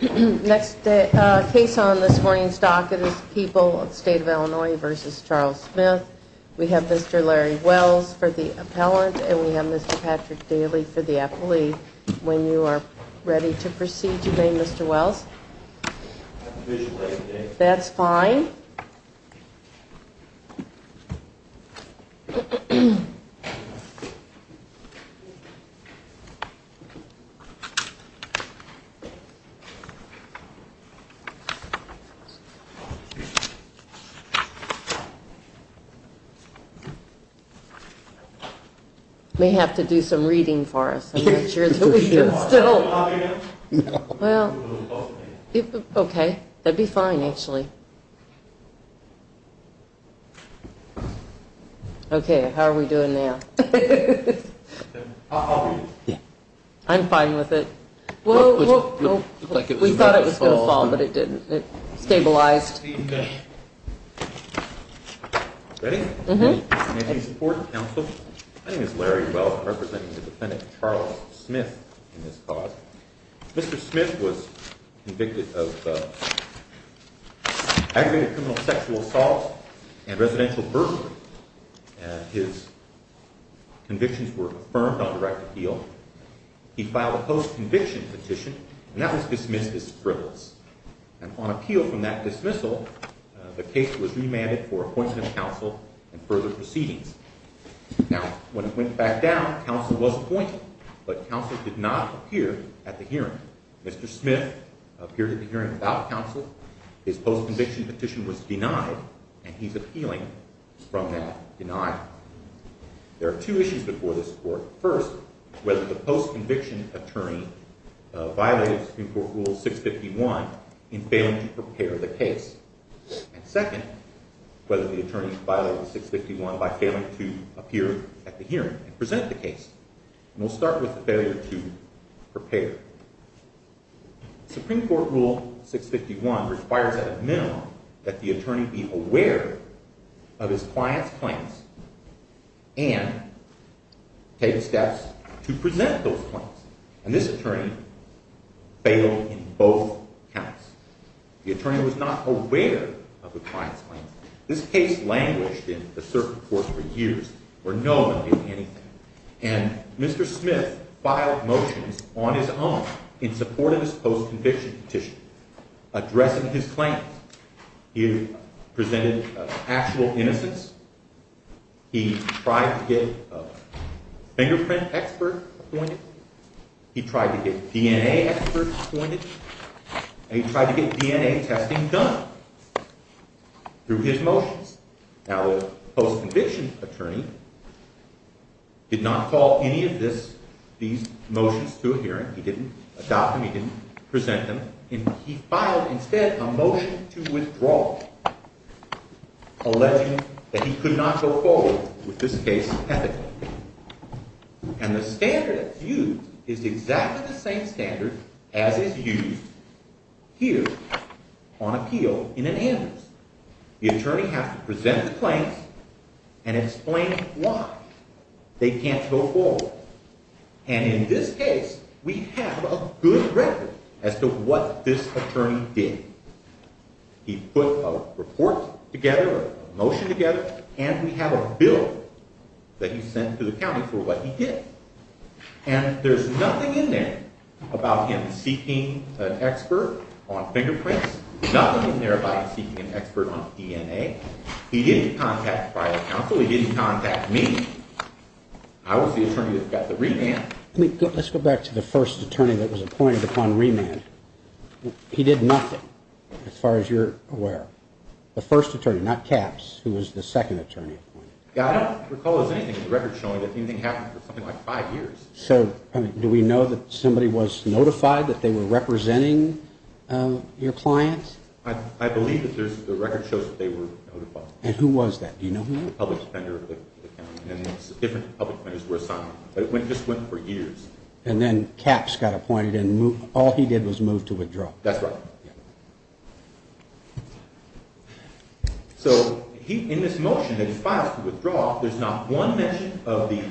Next case on this morning's docket is People of the State of Illinois v. Charles Smith. We have Mr. Larry Wells for the appellant, and we have Mr. Patrick Daly for the appellee. When you are ready to proceed today, Mr. Wells. That's fine. You may have to do some reading for us. I'm not sure that we can still. Well, okay. That would be fine, actually. Okay, how are we doing now? I'm fine with it. We thought it was going to fall, but it didn't. It stabilized. Ready? Mm-hmm. May I have your support and counsel? My name is Larry Wells. I'm representing the defendant, Charles Smith, in this cause. Mr. Smith was convicted of aggravated criminal sexual assault and residential burglary, and his convictions were confirmed on direct appeal. He filed a post-conviction petition, and that was dismissed as frivolous. And on appeal from that dismissal, the case was remanded for appointment of counsel and further proceedings. Now, when it went back down, counsel was appointed, but counsel did not appear at the hearing. Mr. Smith appeared at the hearing without counsel. His post-conviction petition was denied, and he's appealing from that denial. There are two issues before this court. First, whether the post-conviction attorney violated Supreme Court Rule 651 in failing to prepare the case. And second, whether the attorney violated 651 by failing to appear at the hearing and present the case. And we'll start with the failure to prepare. Supreme Court Rule 651 requires at a minimum that the attorney be aware of his client's claims and take steps to present those claims. And this attorney failed in both counts. The attorney was not aware of the client's claims. This case languished in the circuit court for years where no one did anything. And Mr. Smith filed motions on his own in support of his post-conviction petition addressing his claims. He presented actual innocence. He tried to get a fingerprint expert appointed. He tried to get DNA experts appointed. And he tried to get DNA testing done through his motions. Now, the post-conviction attorney did not call any of these motions to a hearing. He didn't adopt them. He didn't present them. And he filed instead a motion to withdraw, alleging that he could not go forward with this case ethically. And the standard that's used is exactly the same standard as is used here on appeal in an amicus. The attorney has to present the claims and explain why they can't go forward. And in this case, we have a good record as to what this attorney did. He put a report together, a motion together, and we have a bill that he sent to the county for what he did. And there's nothing in there about him seeking an expert on fingerprints. There's nothing in there about him seeking an expert on DNA. He didn't contact private counsel. He didn't contact me. I was the attorney that got the remand. Let's go back to the first attorney that was appointed upon remand. He did nothing, as far as you're aware. The first attorney, not Capps, who was the second attorney appointed. I don't recall there's anything in the record showing that anything happened for something like five years. So do we know that somebody was notified that they were representing your clients? I believe that the record shows that they were notified. And who was that? Do you know who it was? A public defender of the county, and different public defenders were assigned. But it just went for years. And then Capps got appointed, and all he did was move to withdraw. That's right. So in this motion that he filed to withdraw, there's not one mention of the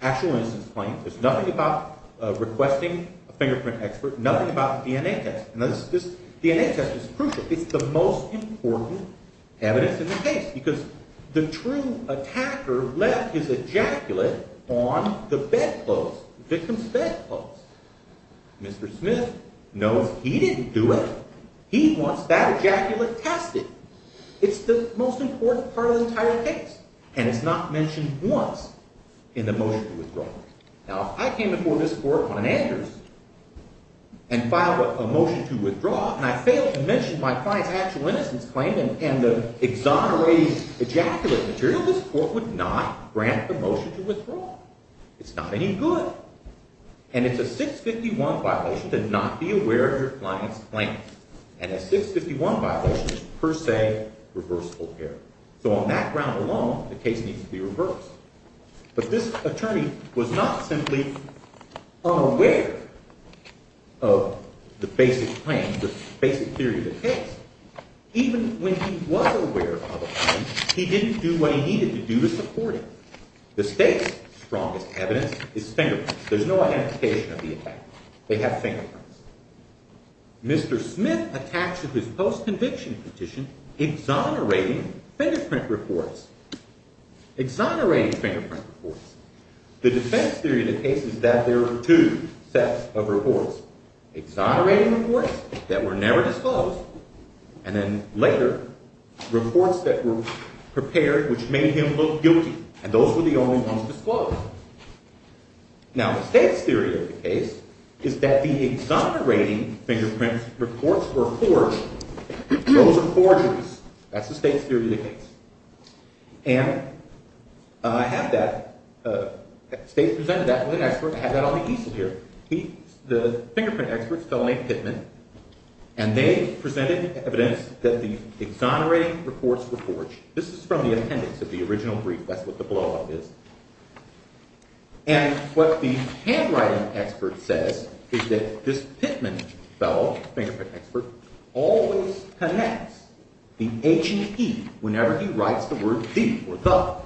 actual innocence claim. There's nothing about requesting a fingerprint expert. Nothing about the DNA test. Now, this DNA test is crucial. It's the most important evidence in the case, because the true attacker left his ejaculate on the bedclothes, the victim's bedclothes. Mr. Smith knows he didn't do it. He wants that ejaculate tested. It's the most important part of the entire case. And it's not mentioned once in the motion to withdraw. Now, if I came before this court on an Andrews and filed a motion to withdraw, and I failed to mention my client's actual innocence claim and the exonerating ejaculate material, this court would not grant the motion to withdraw. It's not any good. And it's a 651 violation to not be aware of your client's claims. And a 651 violation is per se reversible error. So on that ground alone, the case needs to be reversed. But this attorney was not simply unaware of the basic claims, the basic theory of the case. Even when he was aware of a claim, he didn't do what he needed to do to support it. The state's strongest evidence is fingerprints. There's no identification of the attacker. They have fingerprints. Mr. Smith attacks with his post-conviction petition exonerating fingerprint reports, exonerating fingerprint reports. The defense theory of the case is that there are two sets of reports, exonerating reports that were never disclosed, and then later, reports that were prepared which made him look guilty. And those were the only ones disclosed. Now, the state's theory of the case is that the exonerating fingerprint reports were forged. Those are forgeries. That's the state's theory of the case. And I have that. The state presented that to an expert. I have that on the easel here. The fingerprint experts, a fellow named Pittman, and they presented evidence that the exonerating reports were forged. This is from the appendix of the original brief. That's what the blow-up is. And what the handwriting expert says is that this Pittman fellow, fingerprint expert, always connects the H and E whenever he writes the word the or the.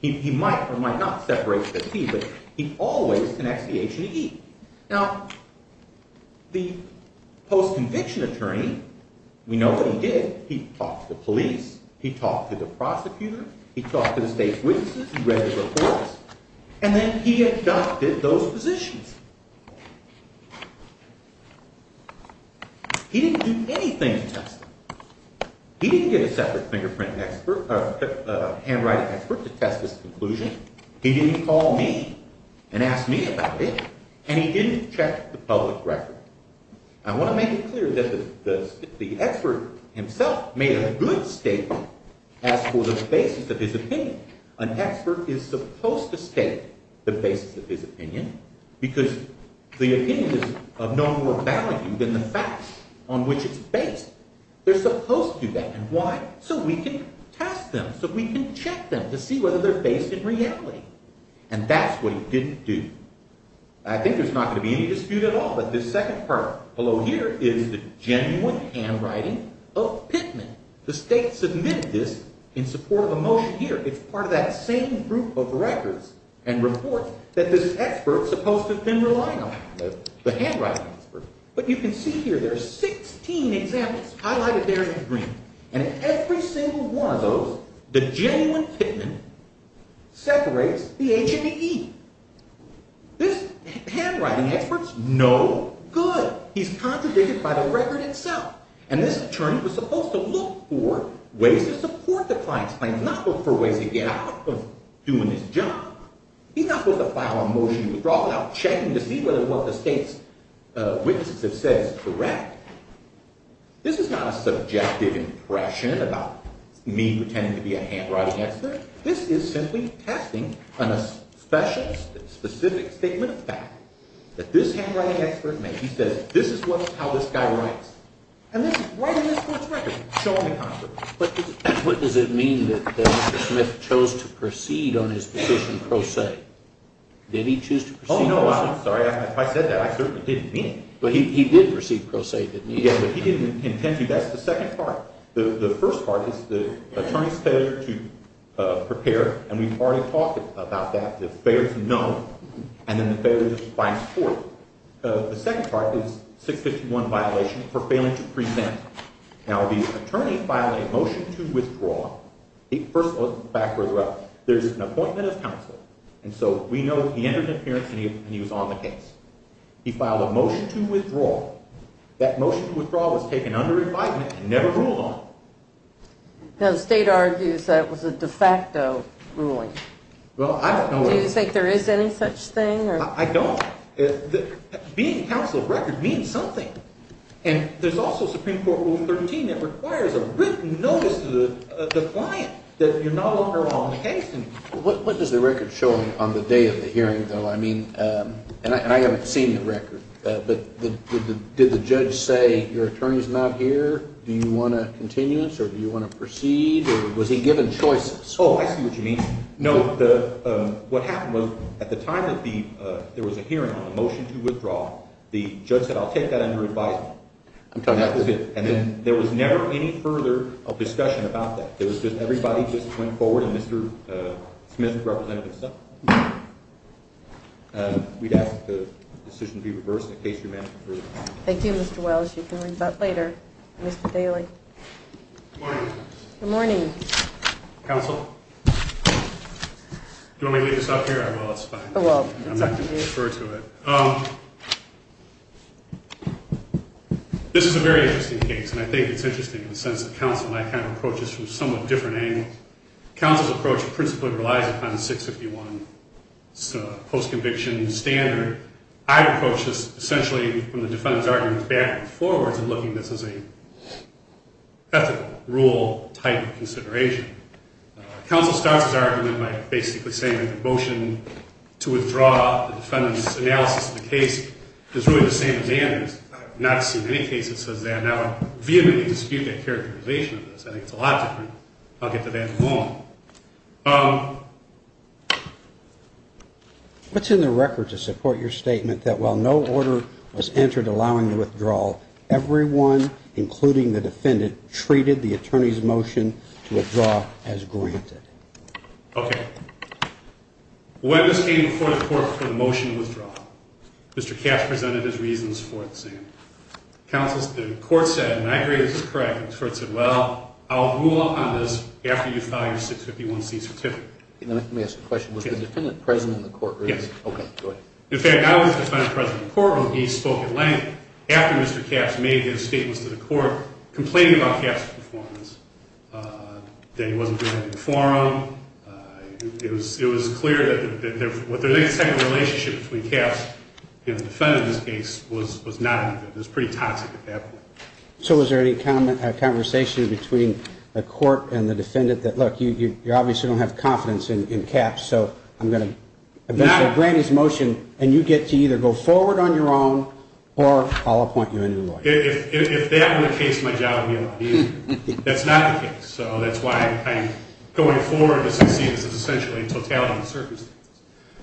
He might or might not separate the T, but he always connects the H and E. Now, the post-conviction attorney, we know what he did. He talked to police. He talked to the prosecutor. He talked to the state's witnesses. He read the reports. And then he adopted those positions. He didn't do anything to test them. He didn't get a separate fingerprint expert or handwriting expert to test his conclusion. He didn't call me and ask me about it. And he didn't check the public record. I want to make it clear that the expert himself made a good statement as for the basis of his opinion. An expert is supposed to state the basis of his opinion because the opinion is of no more value than the facts on which it's based. They're supposed to do that. And why? So we can test them, so we can check them to see whether they're based in reality. And that's what he didn't do. I think there's not going to be any dispute at all, but this second part below here is the genuine handwriting of Pittman. The state submitted this in support of a motion here. It's part of that same group of records and reports that this expert is supposed to have been relying on, the handwriting expert. But you can see here there are 16 examples highlighted there in green. And every single one of those, the genuine Pittman separates the H and the E. This handwriting expert's no good. He's contradicted by the record itself. And this attorney was supposed to look for ways to support the client's claims, not look for ways to get out of doing his job. He's not supposed to file a motion to withdraw without checking to see whether what the state's witnesses have said is correct. This is not a subjective impression about me pretending to be a handwriting expert. This is simply testing a specific statement of fact that this handwriting expert made. He says, this is how this guy writes. And this is right in this court's record, shown in the conference. But what does it mean that Mr. Smith chose to proceed on his position pro se? Did he choose to proceed pro se? Oh, no, I'm sorry. If I said that, I certainly didn't mean it. But he did proceed pro se, didn't he? Yeah, but he didn't intend to. That's the second part. The first part is the attorney's failure to prepare. And we've already talked about that, the failure to know and then the failure to find support. The second part is 651 violation for failing to present. Now, the attorney filed a motion to withdraw. First, let's go back further up. There's an appointment of counsel. And so we know he entered an appearance and he was on the case. He filed a motion to withdraw. That motion to withdraw was taken under invitement and never ruled on. Now, the state argues that was a de facto ruling. Well, I don't know that. Do you think there is any such thing? I don't. Being counsel of record means something. And there's also Supreme Court Rule 13 that requires a written notice to the client that you're no longer on the case. What does the record show on the day of the hearing, though? I mean, and I haven't seen the record, but did the judge say your attorney's not here? Do you want a continuance or do you want to proceed? Or was he given choices? Oh, I see what you mean. No, what happened was at the time that there was a hearing on the motion to withdraw, the judge said I'll take that under advisement. And then there was never any further discussion about that. It was just everybody just went forward and Mr. Smith represented himself. We'd ask that the decision be reversed in case you're managing further. Thank you, Mr. Wells. You can read that later, Mr. Daly. Good morning. Good morning. Counsel? Do you want me to leave this up here? Well, it's fine. I'm not going to refer to it. This is a very interesting case, and I think it's interesting in the sense that counsel and I kind of approach this from somewhat different angles. Counsel's approach principally relies upon the 651 post-conviction standard. I'd approach this essentially from the defendant's argument back and forwards and looking at this as an ethical rule type of consideration. Counsel starts his argument by basically saying that the motion to withdraw the defendant's analysis of the case is really the same as Andrew's. I have not seen any case that says that. Now I vehemently dispute that characterization of this. I think it's a lot different. I'll get to that in a moment. What's in the record to support your statement that while no order was entered allowing the withdrawal, everyone, including the defendant, treated the attorney's motion to withdraw as granted? Okay. When this came before the court for the motion to withdraw, Mr. Kaff presented his reasons for it the same. Counsel, the court said, and I agree this is correct, the court said, well, I'll rule out on this after you file your 651C certificate. Let me ask a question. Was the defendant present in the courtroom? Yes. Okay, go ahead. In fact, I was the defendant present in the courtroom. He spoke at length after Mr. Kaff made his statements to the court, complaining about Kaff's performance, that he wasn't doing a good forum. It was clear that there was any type of relationship between Kaff and the defendant in this case was not any good. It was pretty toxic at that point. So was there any conversation between the court and the defendant that, look, you obviously don't have confidence in Kaff, so I'm going to eventually grant his motion and you get to either go forward on your own or I'll appoint you a new lawyer? If that were the case, my job would be a lot easier. That's not the case. So that's why I'm going forward to succeed. This is essentially a totality of circumstances.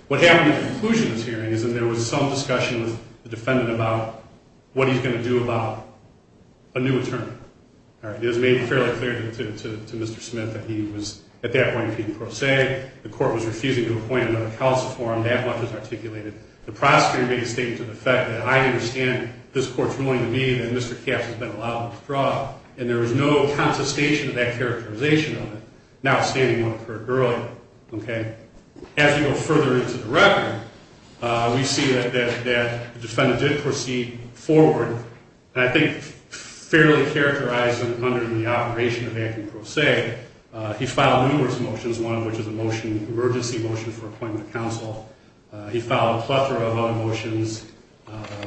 What happened at the conclusion of this hearing is that there was some discussion with the defendant about what he's going to do about a new attorney. It was made fairly clear to Mr. Smith that he was at that point being prosaic. The court was refusing to appoint another counsel for him. That much was articulated. The prosecutor made a statement to the fact that I understand this court's ruling to me that Mr. Kaff has been allowed to withdraw, and there was no contestation of that characterization of it, notwithstanding what occurred earlier. As we go further into the record, we see that the defendant did proceed forward, I think fairly characterized under the operation of acting prosaic. He filed numerous motions, one of which is an emergency motion for appointment of counsel. He filed a plethora of other motions,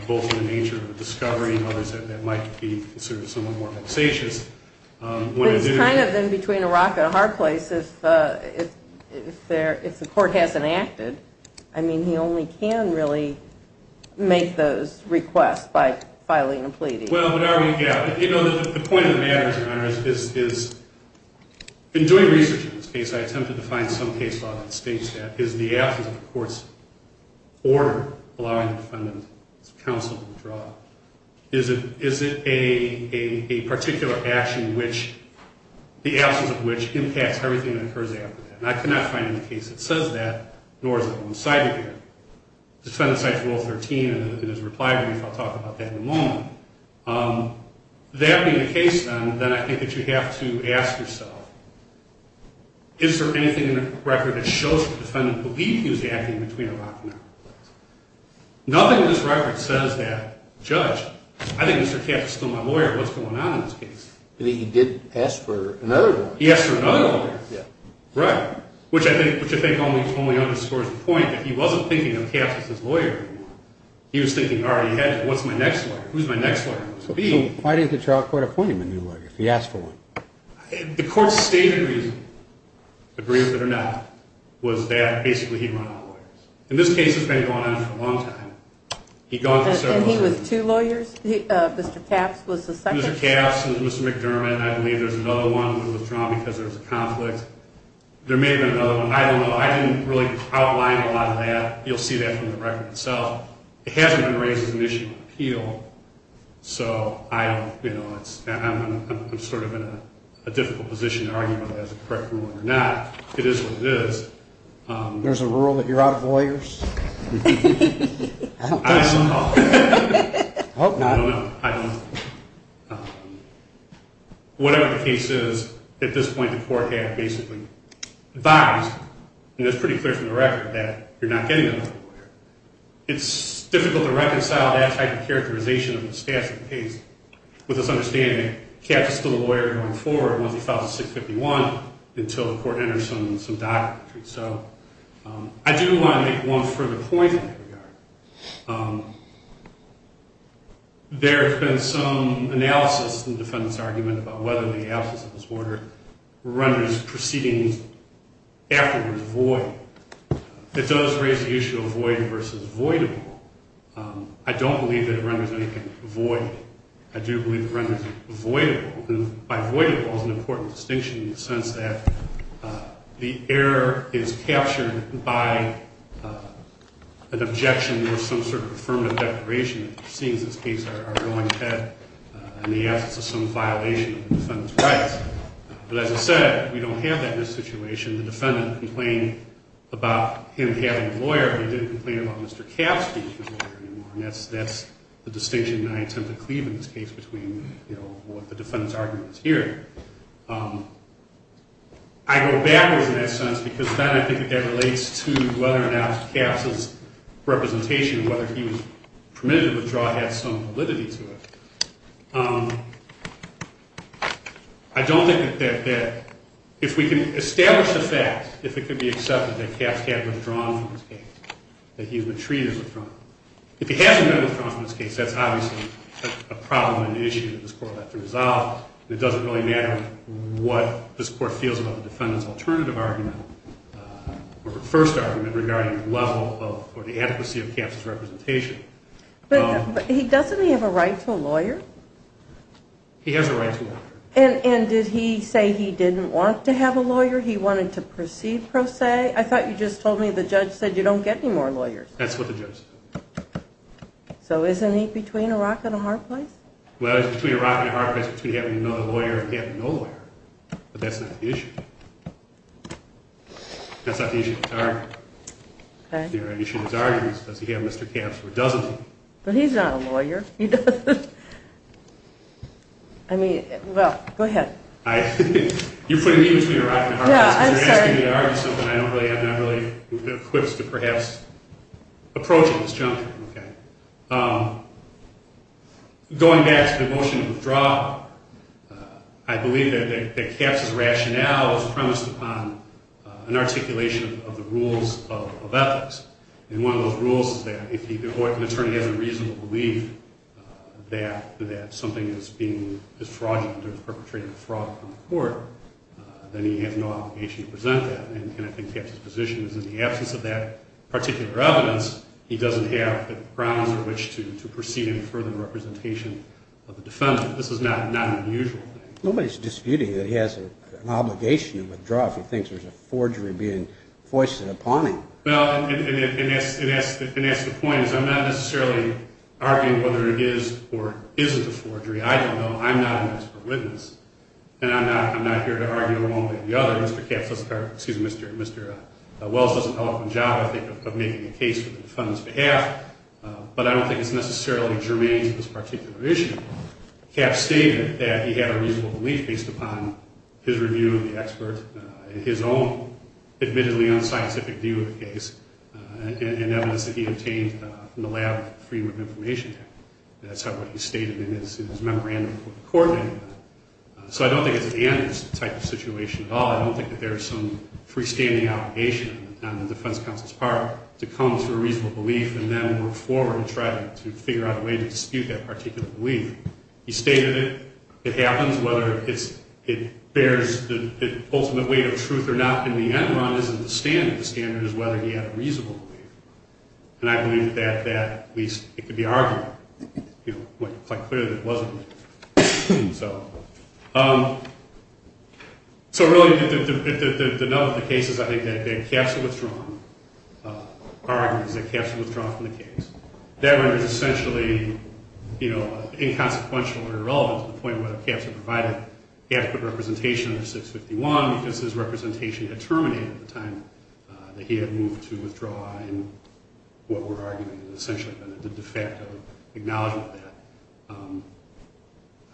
both in the nature of a discovery and others that might be considered somewhat more vexatious. But he's kind of in between a rock and a hard place if the court hasn't acted. I mean, he only can really make those requests by filing a plea deal. Well, the point of the matter, Your Honor, is in doing research on this case, I attempted to find some case law that states that. Is the absence of a court's order allowing the defendant's counsel to withdraw? Is it a particular action, the absence of which impacts everything that occurs after that? And I could not find any case that says that, nor is it on the side of here. The defendant cited Rule 13 in his reply brief. I'll talk about that in a moment. That being the case, then, then I think that you have to ask yourself, is there anything in the record that shows the defendant believed he was acting between a rock and a hard place? Nothing in this record says that, Judge. I think Mr. Katz is still my lawyer. What's going on in this case? He did ask for another lawyer. He asked for another lawyer. Right. Which I think only underscores the point that he wasn't thinking of Katz as his lawyer anymore. He was thinking, all right, what's my next lawyer? Who's my next lawyer? Why did the trial court appoint him a new lawyer if he asked for one? The court's stated reason, agree with it or not, was that basically he ran out of lawyers. And this case has been going on for a long time. And he was two lawyers? Mr. Katz was the second? Mr. Katz and Mr. McDermott, I believe there's another one that was withdrawn because there was a conflict. There may have been another one. I don't know. I didn't really outline a lot of that. You'll see that from the record itself. It hasn't been raised as an issue of appeal. So I'm sort of in a difficult position to argue whether that's a correct ruling or not. It is what it is. There's a rule that you're out of lawyers? I don't know. I don't know. I don't know. Whatever the case is, at this point, the court had basically advised, and it's pretty clear from the record, that you're not getting another lawyer. It's difficult to reconcile that type of characterization of the stats of the case with this understanding that Katz is still a lawyer going forward once he files a 651 until the court enters some doctrine. So I do want to make one further point in that regard. There has been some analysis in the defendant's argument about whether the analysis of this order renders proceedings afterwards void. It does raise the issue of void versus voidable. I don't believe that it renders anything void. I do believe it renders it voidable. And voidable is an important distinction in the sense that the error is captured by an objection or some sort of affirmative declaration, which seems in this case our ruling had in the absence of some violation of the defendant's rights. But as I said, we don't have that in this situation. The defendant complained about him having a lawyer. He didn't complain about Mr. Katz being his lawyer anymore. And that's the distinction that I attempt to cleave in this case between what the defendant's argument is here. I go backwards in that sense because then I think that that relates to whether or not Katz's representation, whether he was permitted to withdraw, had some validity to it. I don't think that if we can establish the fact, if it could be accepted that Katz had withdrawn from his case, that he had been treated withdrawn. If he hasn't been withdrawn from his case, that's obviously a problem and issue that this Court will have to resolve. It doesn't really matter what this Court feels about the defendant's alternative argument or the first argument regarding the level of or the adequacy of Katz's representation. But doesn't he have a right to a lawyer? He has a right to a lawyer. And did he say he didn't want to have a lawyer? He wanted to proceed pro se? I thought you just told me the judge said you don't get any more lawyers. That's what the judge said. So isn't he between a rock and a hard place? Well, he's between a rock and a hard place between having another lawyer and having no lawyer. But that's not the issue. That's not the issue of the argument. The issue of the argument is does he have Mr. Katz or doesn't he? But he's not a lawyer. He doesn't. I mean, well, go ahead. You're putting me between a rock and a hard place because you're asking me to argue something I don't really have the quips to perhaps approach at this juncture. Going back to the motion to withdraw, I believe that Katz's rationale is premised upon an articulation of the rules of ethics. And one of those rules is that if an attorney has a reasonable belief that something is being withdrawn from the court, then he has no obligation to present that. And I think Katz's position is in the absence of that particular evidence, he doesn't have the grounds for which to proceed in further representation of the defendant. This is not an unusual thing. Nobody's disputing that he has an obligation to withdraw if he thinks there's a forgery being foisted upon him. Well, and that's the point, is I'm not necessarily arguing whether it is or isn't a forgery. I don't know. I'm not an expert witness. And I'm not here to argue one way or the other. Mr. Wells does an eloquent job, I think, of making a case for the defendant's behalf. But I don't think it's necessarily germane to this particular issue. Katz stated that he had a reasonable belief based upon his review of the expert, his own admittedly unscientific view of the case, and evidence that he obtained from the lab Freedom of Information Act. That's what he stated in his memorandum to the court anyway. So I don't think it's an antitype situation at all. I don't think that there's some freestanding obligation on the defense counsel's part to come to a reasonable belief and then work forward and try to figure out a way to dispute that particular belief. He stated it happens whether it bears the ultimate weight of truth or not. In the end run, it isn't the standard. The standard is whether he had a reasonable belief. And I believe that at least it could be argued quite clearly that it wasn't. So really, if the note of the case is, I think, that Katz withdrawn, our argument is that Katz withdrawn from the case. That run is essentially inconsequential or irrelevant to the point whether Katz provided adequate representation under 651 because his representation had terminated at the time that he had moved to withdraw. And what we're arguing is essentially a de facto acknowledgment of that.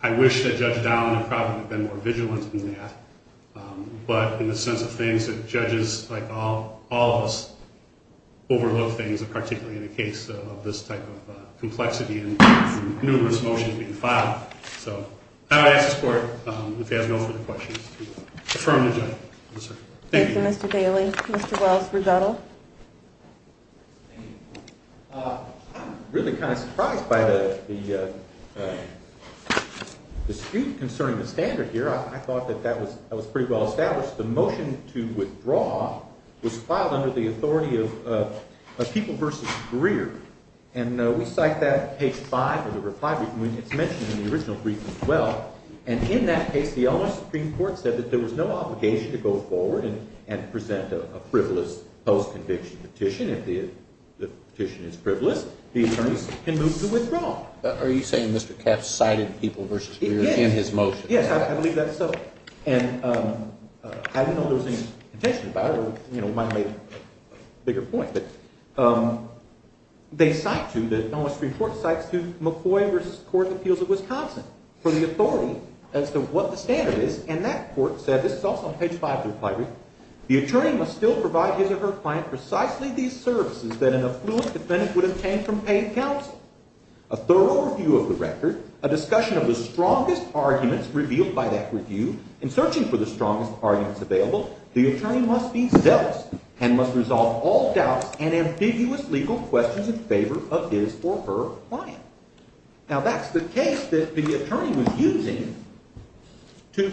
I wish that Judge Dowling had probably been more vigilant in that, but in the sense of things that judges, like all of us, overlook things, particularly in the case of this type of complexity and numerous motions being filed. So I would ask the Court, if it has no further questions, to affirm the judgment. Thank you. Thank you, Mr. Daly. Mr. Wells, rebuttal. Thank you. I'm really kind of surprised by the dispute concerning the standard here. I thought that that was pretty well established. The motion to withdraw was filed under the authority of a people versus career, and we cite that on page 5 of the reply brief, and it's mentioned in the original brief as well. And in that case, the U.S. Supreme Court said that there was no obligation to go forward and present a frivolous post-conviction petition. If the petition is frivolous, the attorneys can move to withdraw. Are you saying Mr. Katz cited people versus career in his motion? Yes, I believe that's so. And I didn't know there was any contention about it, or we might have made a bigger point, but they cite to, the U.S. Supreme Court cites to McCoy v. Court of Appeals of Wisconsin for the authority as to what the standard is, and that court said, this is also on page 5 of the reply brief, the attorney must still provide his or her client precisely these services that an affluent defendant would obtain from paying counsel. A thorough review of the record, a discussion of the strongest arguments revealed by that review, and searching for the strongest arguments available, the attorney must be zealous and must resolve all doubts and ambiguous legal questions in favor of his or her client. Now, that's the case that the attorney was using to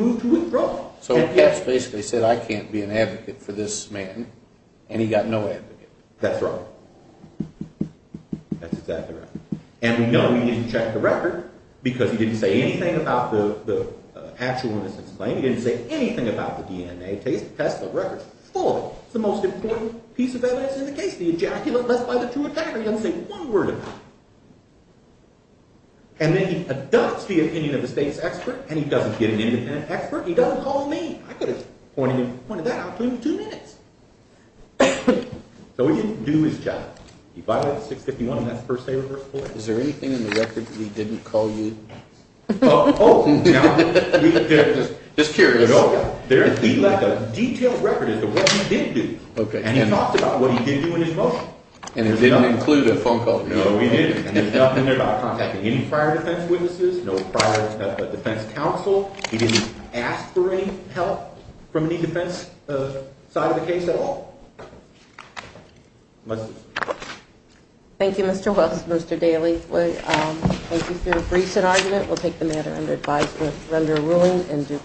move to withdraw. So Katz basically said, I can't be an advocate for this man, and he got no advocate. That's right. That's exactly right. And we know he didn't check the record because he didn't say anything about the actual innocence claim. He didn't say anything about the DNA test, the record's full of it. It's the most important piece of evidence in the case, the ejaculate left by the two attackers. He doesn't say one word about it. And then he adopts the opinion of the state's expert, and he doesn't get an independent expert. He doesn't call me. I could have pointed that out to him in two minutes. So he didn't do his job. He filed it at 651, and that's the first day of reversal. Is there anything in the record that he didn't call you? Oh, oh. Just curious. He left a detailed record of what he did do. And he talked about what he did do in his motion. And it didn't include a phone call. No, we didn't. And there's nothing there about contacting any prior defense witnesses, no prior defense counsel. He didn't ask for any help from any defense side of the case at all? Thank you, Mr. Wells, Mr. Daly. Thank you for your briefs and argument. We'll take the matter under advisement, render a ruling in due course.